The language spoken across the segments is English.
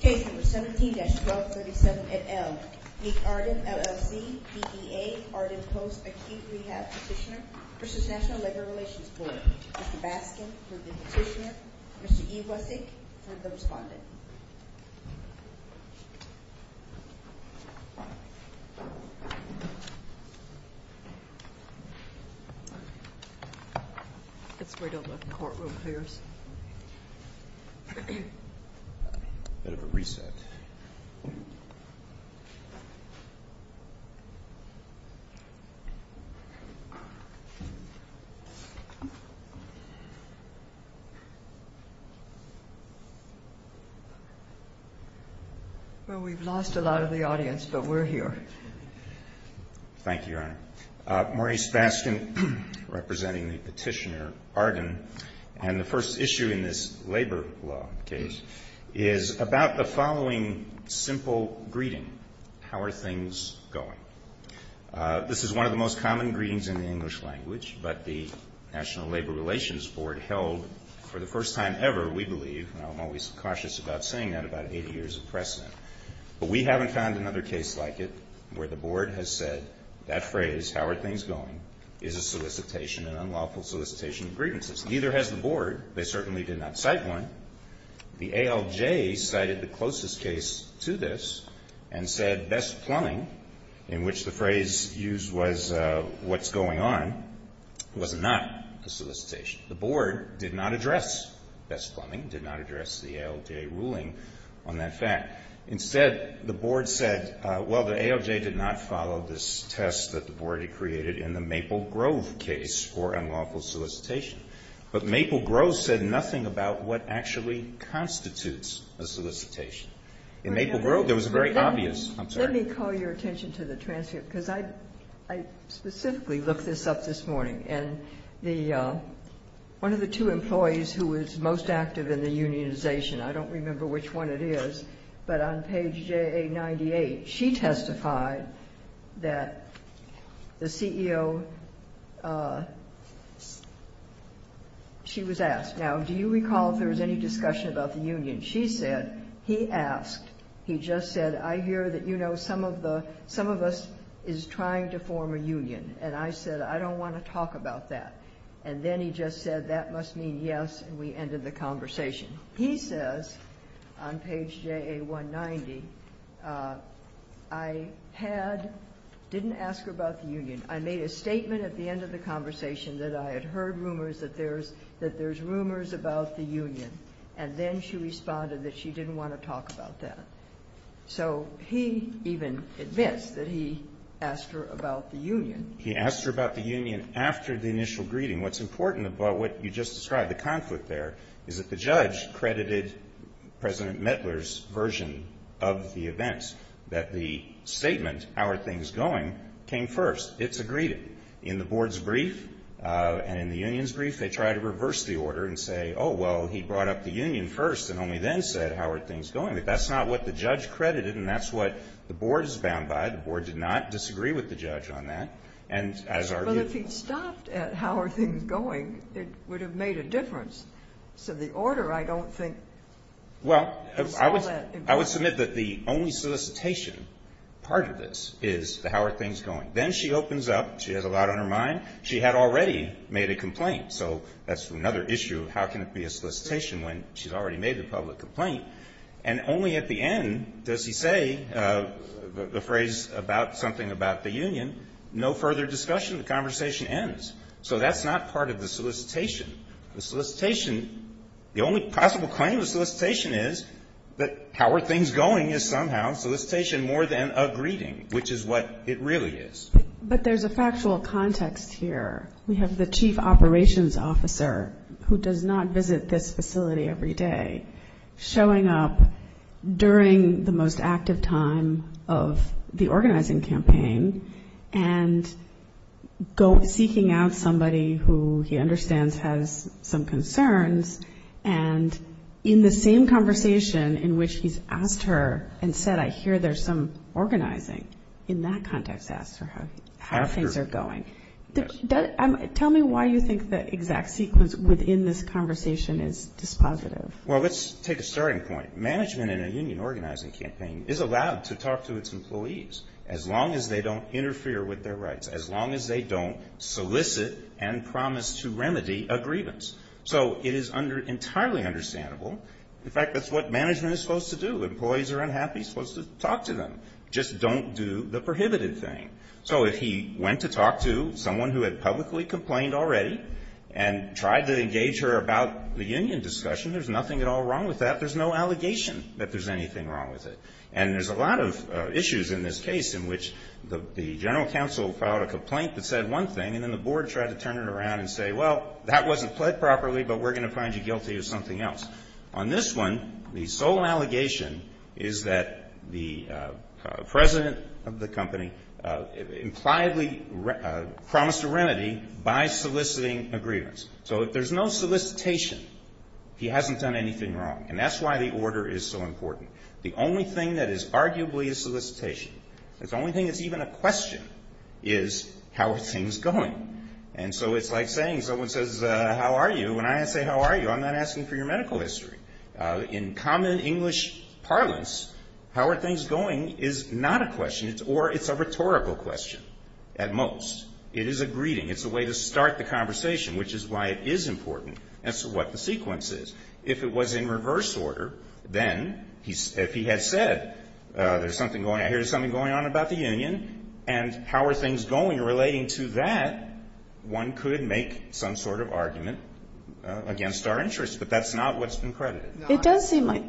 Case number 17-1237NL. Mek Arden, LLC, BBA, Arden Post Acute Rehab Petitioner v. National Labor Relations Board. Mr. Baskin for the Petitioner, Mr. Iwasik for the Respondent. It's right on the courtroom here. We've lost a lot of the audience, but we're here. Thank you, Your Honor. Maurice Baskin, representing the Petitioner, Arden, and the first issue in this labor law case is about the following simple greeting, how are things going? This is one of the most common greetings in the English language, but the National Labor Relations Board held for the first time ever, we believe, and I'm always cautious about saying that, about 80 years of precedent. But we haven't found another case like it where the Board has said that phrase, how are things going, is a solicitation, an unlawful solicitation of greetings. Neither has the Board. They certainly did not cite one. The ALJ cited the closest case to this and said best plumbing, in which the phrase used was what's going on, was not a solicitation. The Board did not address best plumbing, did not address the ALJ ruling on that fact. Instead, the Board said, well, the ALJ did not follow this test that the Board had created in the Maple Grove case for unlawful solicitation. But Maple Grove said nothing about what actually constitutes a solicitation. In Maple Grove, there was a very obvious concern. Let me call your attention to the transcript, because I specifically looked this up this I don't remember which one it is, but on page JA-98, she testified that the CEO, she was asked, now, do you recall if there was any discussion about the union? She said, he asked, he just said, I hear that, you know, some of us is trying to form a union. And I said, I don't want to talk about that. And then he just said, that must mean yes, and we ended the conversation. He says on page JA-190, I had, didn't ask her about the union. I made a statement at the end of the conversation that I had heard rumors that there's rumors about the union. And then she responded that she didn't want to talk about that. So he even admits that he asked her about the union. He asked her about the union after the initial greeting. What's important about what you just described, the conflict there, is that the judge credited President Mettler's version of the event, that the statement, how are things going, came first. It's a greeting. In the board's brief and in the union's brief, they try to reverse the order and say, oh, well, he brought up the union first and only then said, how are things going. But that's not what the judge credited, and that's what the board is bound by. The board did not disagree with the judge on that, and as our view. But if he'd stopped at how are things going, it would have made a difference. So the order, I don't think, was all that important. Well, I would submit that the only solicitation part of this is the how are things going. Then she opens up. She has a lot on her mind. She had already made a complaint. So that's another issue of how can it be a solicitation when she's already made a public complaint, and only at the end does he say the phrase about something about the union. No further discussion. The conversation ends. So that's not part of the solicitation. The solicitation, the only possible claim of the solicitation is that how are things going is somehow solicitation more than a greeting, which is what it really is. But there's a factual context here. We have the chief operations officer who does not visit this facility every day showing up during the most active time of the organizing campaign and seeking out somebody who he understands has some concerns, and in the same conversation in which he's asked her and said I hear there's some concern about how things are going. Tell me why you think the exact sequence within this conversation is dispositive. Well, let's take a starting point. Management in a union organizing campaign is allowed to talk to its employees as long as they don't interfere with their rights, as long as they don't solicit and promise to remedy a grievance. So it is entirely understandable. In fact, that's what management is supposed to do. Employees are unhappy, supposed to talk to them. Just don't do the prohibited thing. So if he went to talk to someone who had publicly complained already and tried to engage her about the union discussion, there's nothing at all wrong with that. There's no allegation that there's anything wrong with it. And there's a lot of issues in this case in which the general counsel filed a complaint that said one thing, and then the board tried to turn it around and say, well, that wasn't pled properly, but we're going to find you guilty of something else. On this one, the sole allegation is that the president of the company impliedly promised a remedy by soliciting a grievance. So if there's no solicitation, he hasn't done anything wrong. And that's why the order is so important. The only thing that is arguably a solicitation, it's the only thing that's even a question, is how are things going? And so it's like saying, someone says, how are you? And I say, how are you? I'm not asking for your medical history. In common English parlance, how are things going is not a question, or it's a rhetorical question at most. It is a greeting. It's a way to start the conversation, which is why it is important as to what the sequence is. If it was in reverse order, then if he had said there's something going on, here's something going on about the union, and how are things going relating to that, one could make some sort of argument against our interests. But that's not what's been credited. It does seem like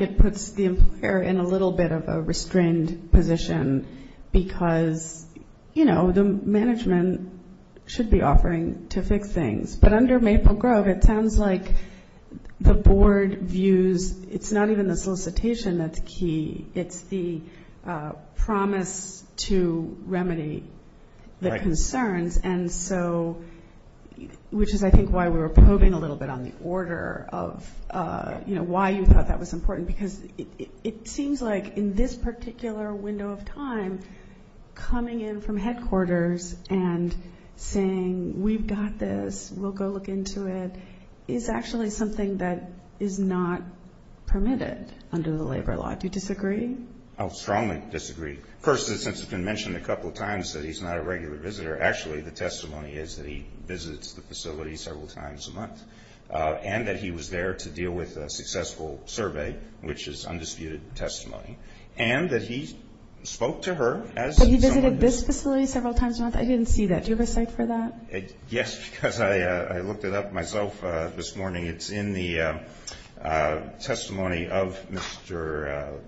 it puts the employer in a little bit of a restrained position because, you know, the management should be offering to fix things. But under Maple Grove, it sounds like the board views it's not even the solicitation that's key. It's the promise to remedy the concerns. And so, which is, I think, why we were probing a little bit on the order of, you know, why you thought that was important. Because it seems like in this particular window of time, coming in from headquarters and saying, we've got this, we'll go look into it, is actually something that is not permitted under the labor law. Do you disagree? I would strongly disagree. First, since it's been mentioned a couple of times that he's not a regular visitor, actually, the testimony is that he visits the facility several times a month, and that he was there to deal with a successful survey, which is undisputed testimony, and that he spoke to her as someone who's But he visited this facility several times a month? I didn't see that. Do you have a cite for that? Yes, because I looked it up myself this morning. It's in the testimony of Mr.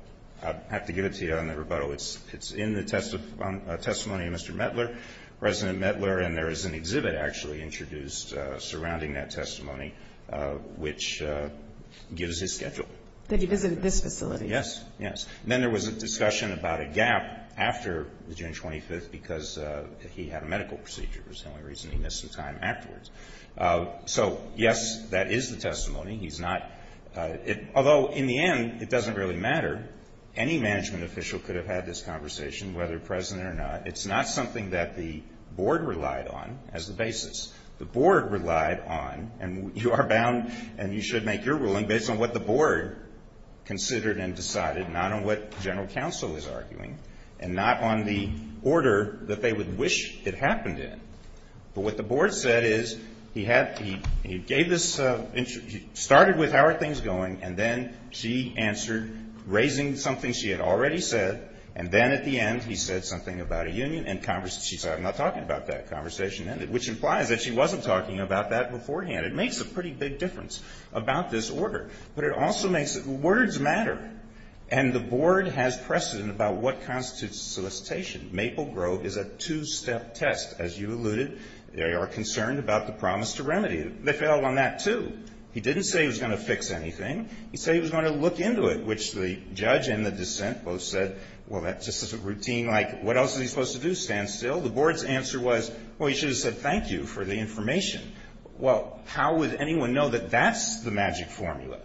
I'll have to get it to you on the rebuttal. It's in the testimony of Mr. Mettler, President Mettler, and there is an exhibit actually introduced surrounding that testimony, which gives his schedule. That he visited this facility. Yes. Yes. And then there was a discussion about a gap after June 25th because he had a medical procedure was the only reason he missed some time afterwards. So, yes, that is the testimony. He's not, although in the end, it doesn't really matter. Any management official could have had this conversation, whether present or not. It's not something that the board relied on as the basis. The board relied on, and you are bound, and you should make your ruling based on what the board considered and decided, not on what general counsel is arguing, and not on the order that they would wish it happened in. But what the board said is he had, he gave this, started with how are things going, and then she answered raising something she had already said, and then at the end he said something about a union, and she said I'm not talking about that. Conversation ended, which implies that she wasn't talking about that beforehand. It makes a pretty big difference about this order. But it also makes, words matter. And the board has precedent about what constitutes solicitation. Maple Grove is a two-step test. As you alluded, they are concerned about the promise to remedy. They failed on that, too. He didn't say he was going to fix anything. He said he was going to look into it, which the judge and the dissent both said, well, that's just a routine, like, what else is he supposed to do, stand still? The board's answer was, well, he should have said thank you for the information. Well, how would anyone know that that's the magic formula?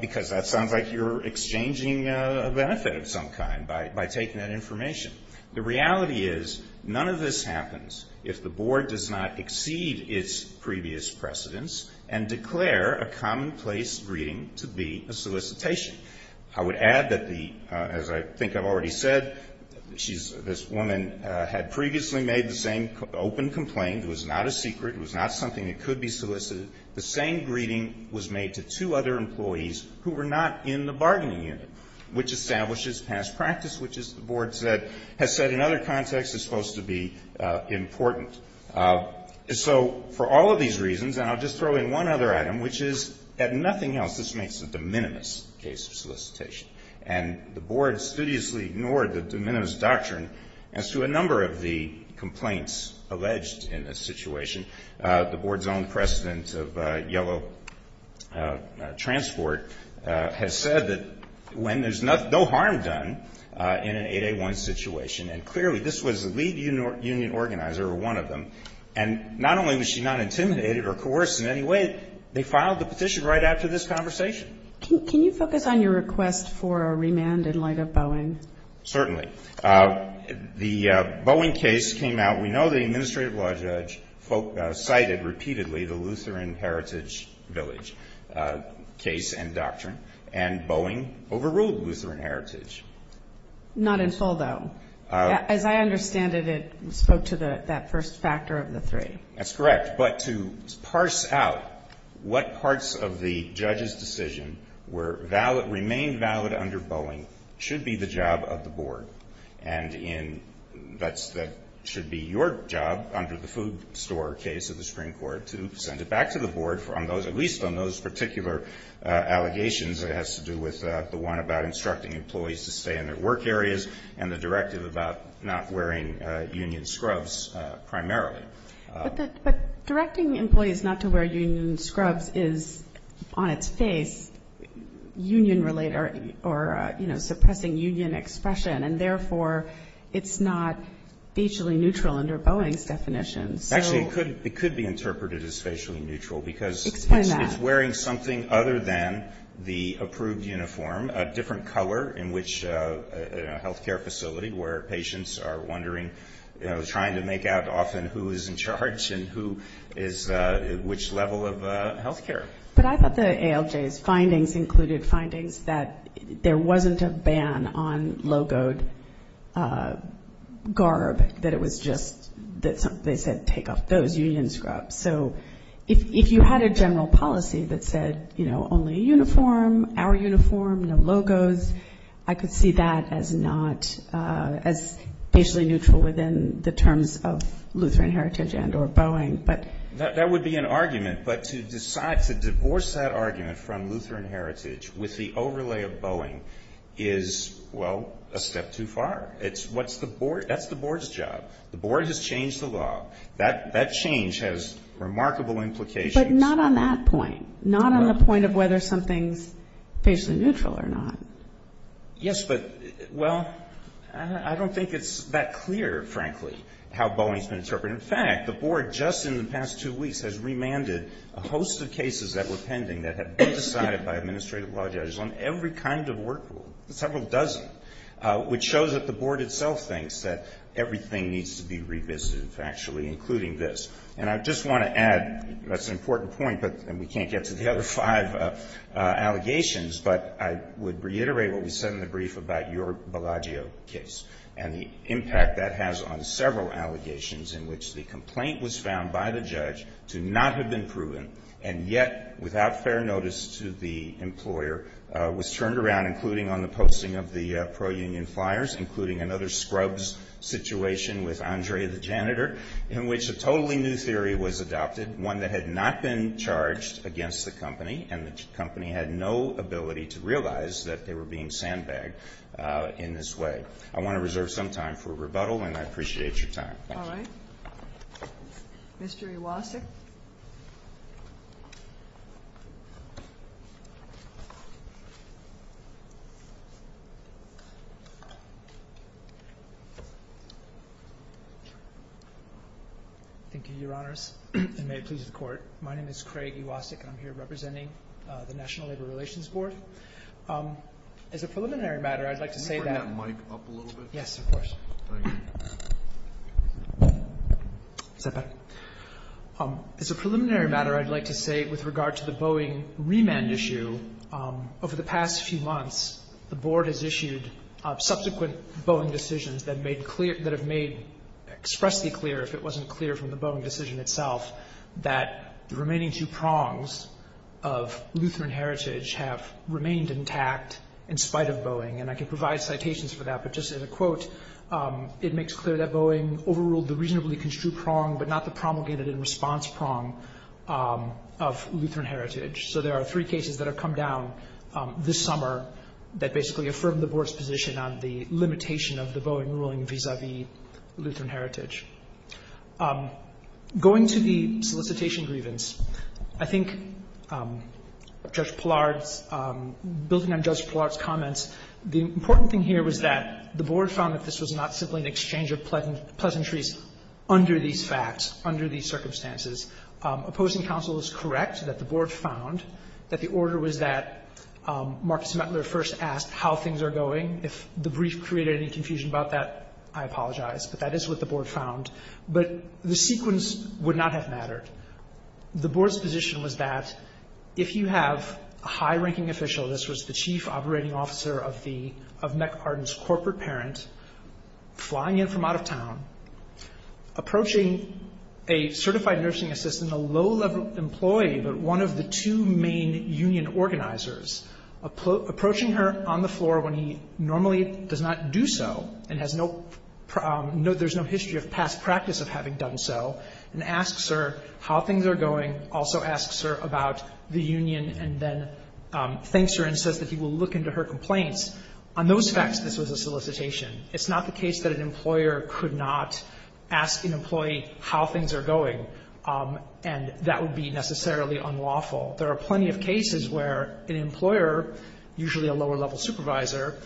Because that sounds like you're exchanging a benefit of some kind by taking that information. The reality is none of this happens if the board does not exceed its previous precedence and declare a commonplace greeting to be a solicitation. I would add that the, as I think I've already said, she's, this woman had previously made the same open complaint. It was not a secret. It was not something that could be solicited. The same greeting was made to two other employees who were not in the bargaining unit, which establishes past practice, which is, the board said, has said in other contexts is supposed to be important. So for all of these reasons, and I'll just throw in one other item, which is that nothing else, this makes a de minimis case of solicitation. And the board studiously ignored the de minimis doctrine as to a number of the complaints alleged in this situation. The board's own precedent of yellow transport has said that when there's no harm done in an 8A1 situation, and clearly this was the lead union organizer or one of them, and not only was she not intimidated or coerced in any way, they filed the petition right after this conversation. Can you focus on your request for a remand in light of Boeing? Certainly. The Boeing case came out. We know the administrative law judge cited repeatedly the Lutheran Heritage Village case and doctrine, and Boeing overruled Lutheran Heritage. Not in full, though. As I understand it, it spoke to that first factor of the three. That's correct. But to parse out what parts of the judge's decision were valid, under Boeing, should be the job of the board. And that should be your job under the food store case of the Supreme Court to send it back to the board on those at least on those particular allegations. It has to do with the one about instructing employees to stay in their work areas and the directive about not wearing union scrubs primarily. But directing employees not to wear union scrubs is, on its face, union-related or, you know, suppressing union expression. And, therefore, it's not facially neutral under Boeing's definition. Actually, it could be interpreted as facially neutral. Explain that. Because it's wearing something other than the approved uniform, a different color in a health care facility where patients are wondering, you know, trying to make out often who is in charge and who is at which level of health care. But I thought the ALJ's findings included findings that there wasn't a ban on logoed garb, that it was just that they said take off those union scrubs. So if you had a general policy that said, you know, only uniform, our uniform, no logos, I could see that as not as facially neutral within the terms of Lutheran Heritage and or Boeing. But that would be an argument. But to decide to divorce that argument from Lutheran Heritage with the overlay of Boeing is, well, a step too far. It's what's the board that's the board's job. The board has changed the law. That change has remarkable implications. But not on that point. Not on the point of whether something's facially neutral or not. Yes, but, well, I don't think it's that clear, frankly, how Boeing's been interpreted. In fact, the board just in the past two weeks has remanded a host of cases that were pending that have been decided by administrative law judges on every kind of work rule, several dozen, which shows that the board itself thinks that everything needs to be revisited, factually, including this. And I just want to add, that's an important point, and we can't get to the other five allegations, but I would reiterate what we said in the brief about your Bellagio case and the impact that has on several allegations in which the complaint was found by the judge to not have been proven, and yet, without fair notice to the employer, was turned around, including on the posting of the pro-union flyers, including another scrubs situation with Andre the janitor, in which a totally new theory was adopted, one that had not been charged against the company, and the company had no ability to realize that they were being sandbagged in this way. I want to reserve some time for rebuttal, and I appreciate your time. Thank you. All right. Mr. Iwasek. Thank you, Your Honors, and may it please the Court. My name is Craig Iwasek, and I'm here representing the National Labor Relations Board. As a preliminary matter, I'd like to say that. Can you bring that mic up a little bit? Yes, of course. Thank you. Is that better? As a preliminary matter, I'd like to say, with regard to the Boeing remand issue, over the past few months, the Board has issued subsequent Boeing decisions that have made expressly clear, if it wasn't clear from the Boeing decision itself, that the remaining two prongs of Lutheran heritage have remained intact, in spite of Boeing. And I can provide citations for that, but just as a quote, it makes clear that Boeing overruled the reasonably construed prong, but not the promulgated and response prong of Lutheran heritage. So there are three cases that have come down this summer that basically affirm the Board's position on the limitation of the Boeing ruling vis-à-vis Lutheran heritage. Going to the solicitation grievance, I think Judge Pillard's, building on Judge Pillard's comments, the important thing here was that the Board found that this was not simply an exchange of pleasantries under these facts, under these circumstances. Opposing counsel is correct that the Board found that the order was that Marcus Pillard's prongs are going. If the brief created any confusion about that, I apologize. But that is what the Board found. But the sequence would not have mattered. The Board's position was that if you have a high-ranking official, this was the chief operating officer of Meck-Arden's corporate parent, flying in from out of town, approaching a certified nursing assistant, a low-level employee, but one of the two main union organizers, approaching her on the floor when he normally does not do so and has no – there's no history of past practice of having done so, and asks her how things are going, also asks her about the union, and then thanks her and says that he will look into her complaints. On those facts, this was a solicitation. It's not the case that an employer could not ask an employee how things are going, and that would be necessarily unlawful. There are plenty of cases where an employer, usually a lower-level supervisor,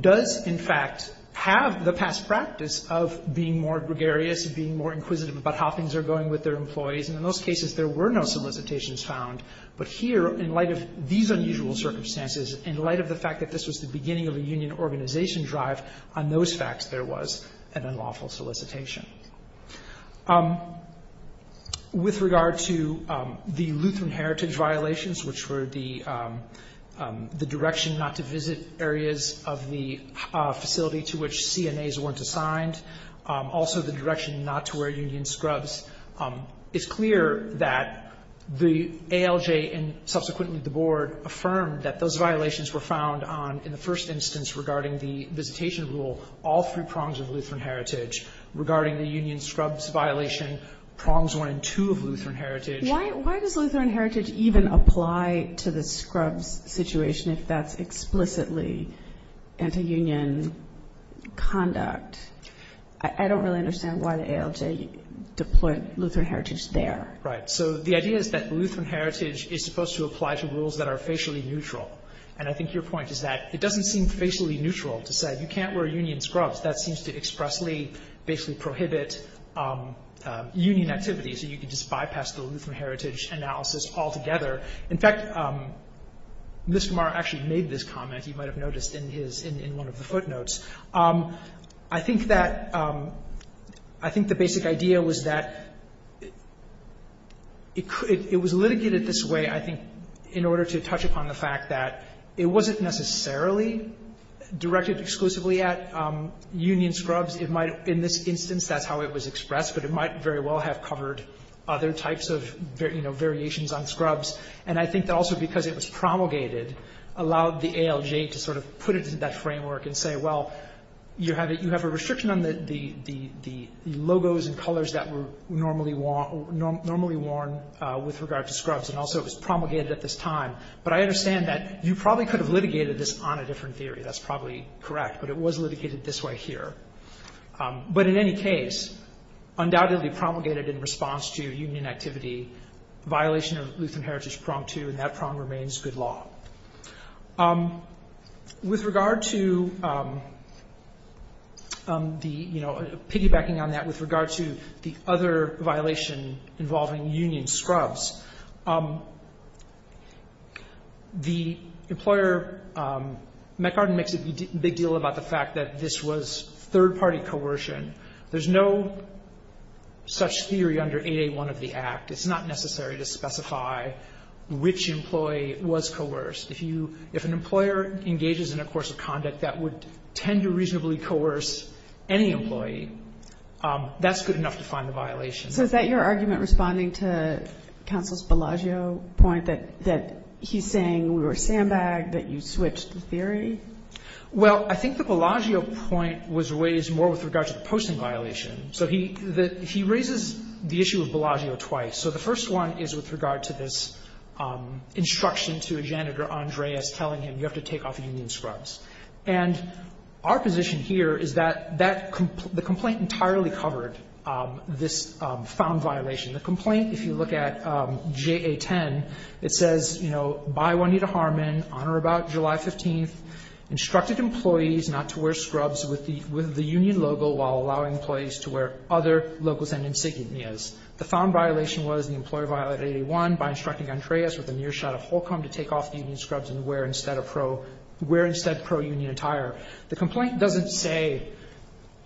does in fact have the past practice of being more gregarious, being more inquisitive about how things are going with their employees. And in those cases, there were no solicitations found. But here, in light of these unusual circumstances, in light of the fact that this was the beginning of a union organization drive, on those facts, there was an unlawful solicitation. With regard to the Lutheran Heritage violations, which were the direction not to visit areas of the facility to which CNAs weren't assigned, also the direction not to wear union scrubs, it's clear that the ALJ and subsequently the Board affirmed that those violations were found on, in the first instance, regarding the visitation rule, all three prongs of Lutheran Heritage, regarding the union scrubs violation, prongs one and two of Lutheran Heritage. Why does Lutheran Heritage even apply to the scrubs situation if that's explicitly anti-union conduct? I don't really understand why the ALJ deployed Lutheran Heritage there. Right. So the idea is that Lutheran Heritage is supposed to apply to rules that are facially neutral. And I think your point is that it doesn't seem facially neutral to say you can't wear union scrubs. That seems to expressly basically prohibit union activity, so you can just bypass the Lutheran Heritage analysis altogether. In fact, Mr. Marr actually made this comment. You might have noticed in his — in one of the footnotes. I think that — I think the basic idea was that it could — it was litigated this way, I think, in order to touch upon the fact that it wasn't necessarily directed exclusively at union scrubs. It might have — in this instance, that's how it was expressed. But it might very well have covered other types of, you know, variations on scrubs. And I think that also because it was promulgated allowed the ALJ to sort of put it into that framework and say, well, you have a restriction on the logos and colors that were normally worn with regard to scrubs, and also it was promulgated at this time. But I understand that you probably could have litigated this on a different theory. That's probably correct. But it was litigated this way here. But in any case, undoubtedly promulgated in response to union activity, violation of Lutheran Heritage Prong 2, and that prong remains good law. With regard to the, you know, piggybacking on that with regard to the other violation involving union scrubs, the employer — McArden makes a big deal about the fact that this was third-party coercion. There's no such theory under 881 of the Act. It's not necessary to specify which employee was coerced. If you — if an employer engages in a course of conduct that would tend to reasonably coerce any employee, that's good enough to find a violation. So is that your argument responding to Counsel's Bellagio point, that he's saying we were sandbagged, that you switched the theory? Well, I think the Bellagio point was raised more with regard to the posting violation. So he raises the issue of Bellagio twice. So the first one is with regard to this instruction to a janitor, Andreas, telling him you have to take off union scrubs. And our position here is that that — the complaint entirely covered this found violation. The complaint, if you look at JA10, it says, you know, by Juanita Harmon, on or about July 15th, instructed employees not to wear scrubs with the union logo while allowing employees to wear other logos and insignias. The found violation was the employer violated 881 by instructing Andreas with a nearshot of Holcomb to take off the union scrubs and wear instead a pro — wear instead pro-union attire. The complaint doesn't say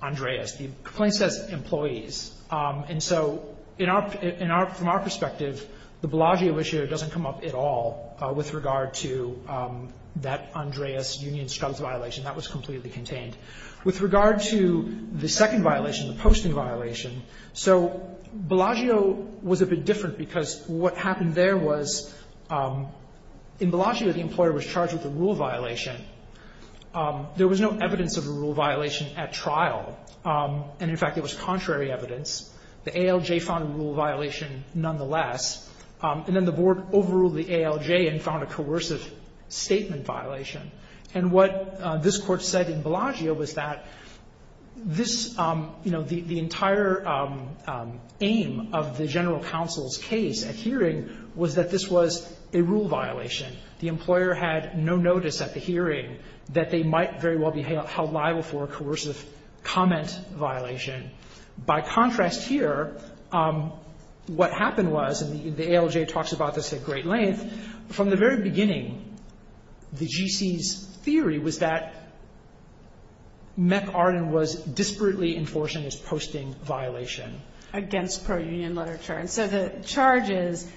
Andreas. The complaint says employees. And so in our — from our perspective, the Bellagio issue doesn't come up at all with regard to that Andreas union scrubs violation. That was completely contained. With regard to the second violation, the posting violation, so Bellagio was a bit different because what happened there was in Bellagio the employer was charged with a rule violation. There was no evidence of a rule violation at trial. And, in fact, it was contrary evidence. The ALJ found a rule violation nonetheless. And then the board overruled the ALJ and found a coercive statement violation. And what this Court said in Bellagio was that this, you know, the entire aim of the general counsel's case at hearing was that this was a rule violation. The employer had no notice at the hearing that they might very well be held liable for a coercive comment violation. By contrast here, what happened was, and the ALJ talks about this at great length, from the very beginning, the GC's theory was that Meck Arden was disparately enforcing his posting violation. Against pro-union literature. And so the charge is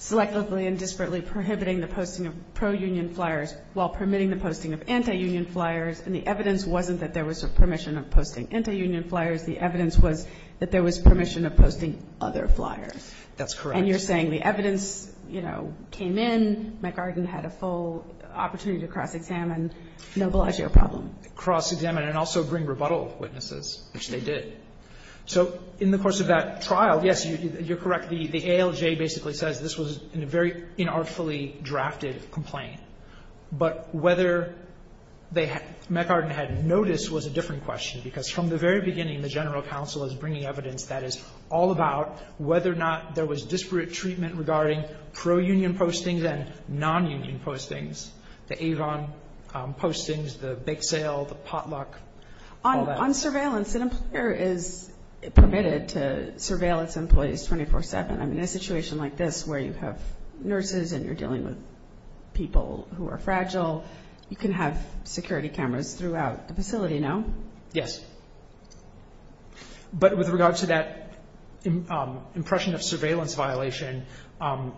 selectively and disparately prohibiting the posting of pro-union flyers while permitting the posting of anti-union flyers. And the evidence wasn't that there was a permission of posting anti-union flyers. The evidence was that there was permission of posting other flyers. That's correct. And you're saying the evidence, you know, came in, Meck Arden had a full opportunity to cross-examine, mobilize your problem. Cross-examine and also bring rebuttal witnesses, which they did. So in the course of that trial, yes, you're correct, the ALJ basically says this was a very inartfully drafted complaint. But whether Meck Arden had notice was a different question, because from the very beginning, the general counsel is bringing evidence that is all about whether or not there was disparate treatment regarding pro-union postings and non-union postings, the Avon postings, the Bake Sale, the Potluck, all that. So on surveillance, an employer is permitted to surveil its employees 24-7. I mean, in a situation like this where you have nurses and you're dealing with people who are fragile, you can have security cameras throughout the facility, no? Yes. But with regard to that impression of surveillance violation,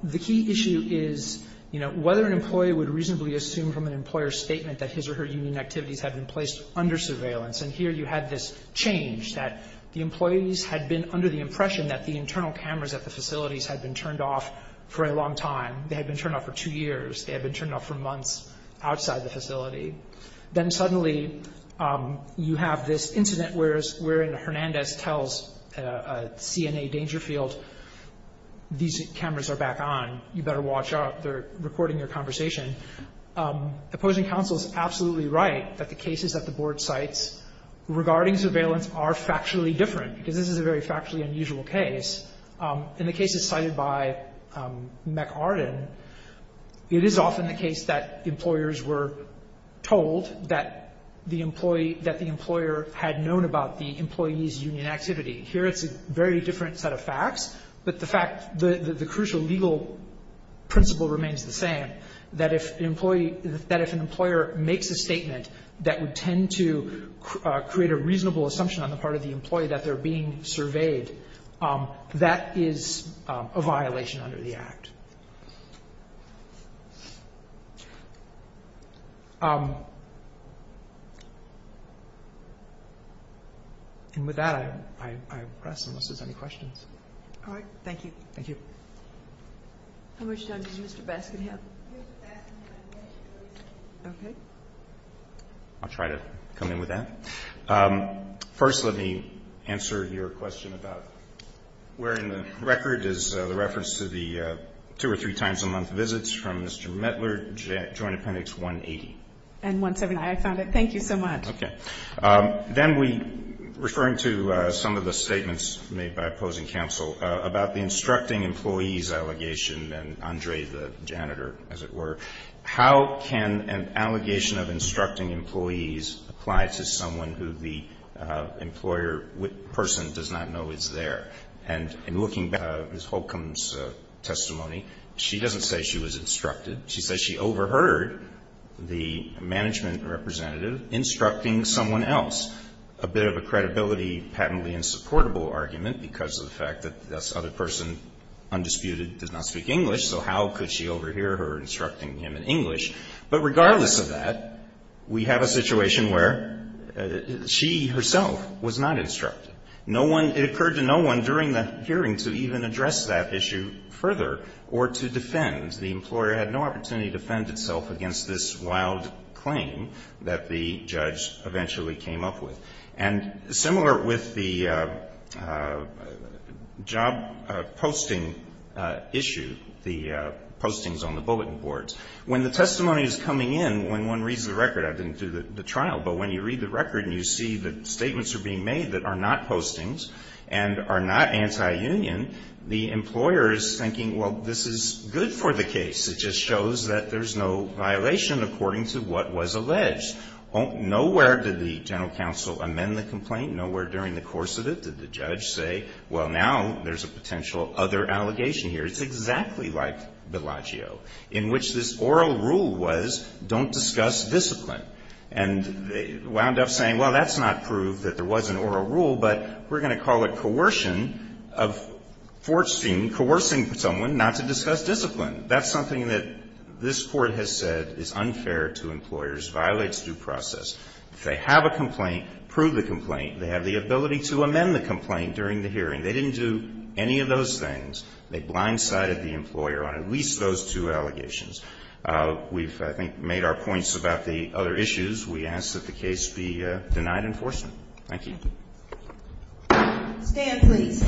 the key issue is, you know, whether an employee would reasonably assume from an employer's statement that his or her union activities had been placed under surveillance. And here you had this change that the employees had been under the impression that the internal cameras at the facilities had been turned off for a long time. They had been turned off for two years. They had been turned off for months outside the facility. Then suddenly you have this incident wherein Hernandez tells CNA Dangerfield, these cameras are back on, you better watch out, they're recording your conversation. Opposing counsel is absolutely right that the cases that the Board cites regarding surveillance are factually different, because this is a very factually unusual case. In the cases cited by McArden, it is often the case that employers were told that the employee – that the employer had known about the employee's union activity. Here it's a very different set of facts, but the fact – the crucial legal principle remains the same, that if an employee – that if an employer makes a statement that would tend to create a reasonable assumption on the part of the employee that they're being surveyed, that is a violation under the Act. And with that, I press unless there's any questions. All right. Thank you. Thank you. How much time does Mr. Baskin have? Okay. I'll try to come in with that. First, let me answer your question about where in the record is the reference to the two or three times a month visits from Mr. Mettler, Joint Appendix 180. And 179. I found it. Thank you so much. Okay. Then we – referring to some of the statements made by opposing counsel about the instructing employees allegation and Andre the janitor, as it were, how can an allegation of instructing employees apply to someone who the employer person does not know is there? And in looking back at Ms. Holcomb's testimony, she doesn't say she was instructed. She says she overheard the management representative instructing someone else, a bit of a credibility, patently insupportable argument because of the fact that this other person, undisputed, does not speak English. So how could she overhear her instructing him in English? But regardless of that, we have a situation where she herself was not instructed. No one – it occurred to no one during the hearing to even address that issue further or to defend. The employer had no opportunity to defend itself against this wild claim that the judge eventually came up with. And similar with the job posting issue, the postings on the bulletin boards, when the testimony is coming in, when one reads the record – I didn't do the trial, but when you read the record and you see that statements are being made that are not the case. It just shows that there's no violation according to what was alleged. Nowhere did the general counsel amend the complaint. Nowhere during the course of it did the judge say, well, now there's a potential other allegation here. It's exactly like Bellagio, in which this oral rule was don't discuss discipline. And they wound up saying, well, that's not proof that there was an oral rule, but we're going to call it coercion of forcing, coercing someone not to discuss discipline. That's something that this Court has said is unfair to employers, violates due process. If they have a complaint, prove the complaint. They have the ability to amend the complaint during the hearing. They didn't do any of those things. They blindsided the employer on at least those two allegations. We've, I think, made our points about the other issues. We ask that the case be denied enforcement. Thank you. Stand, please.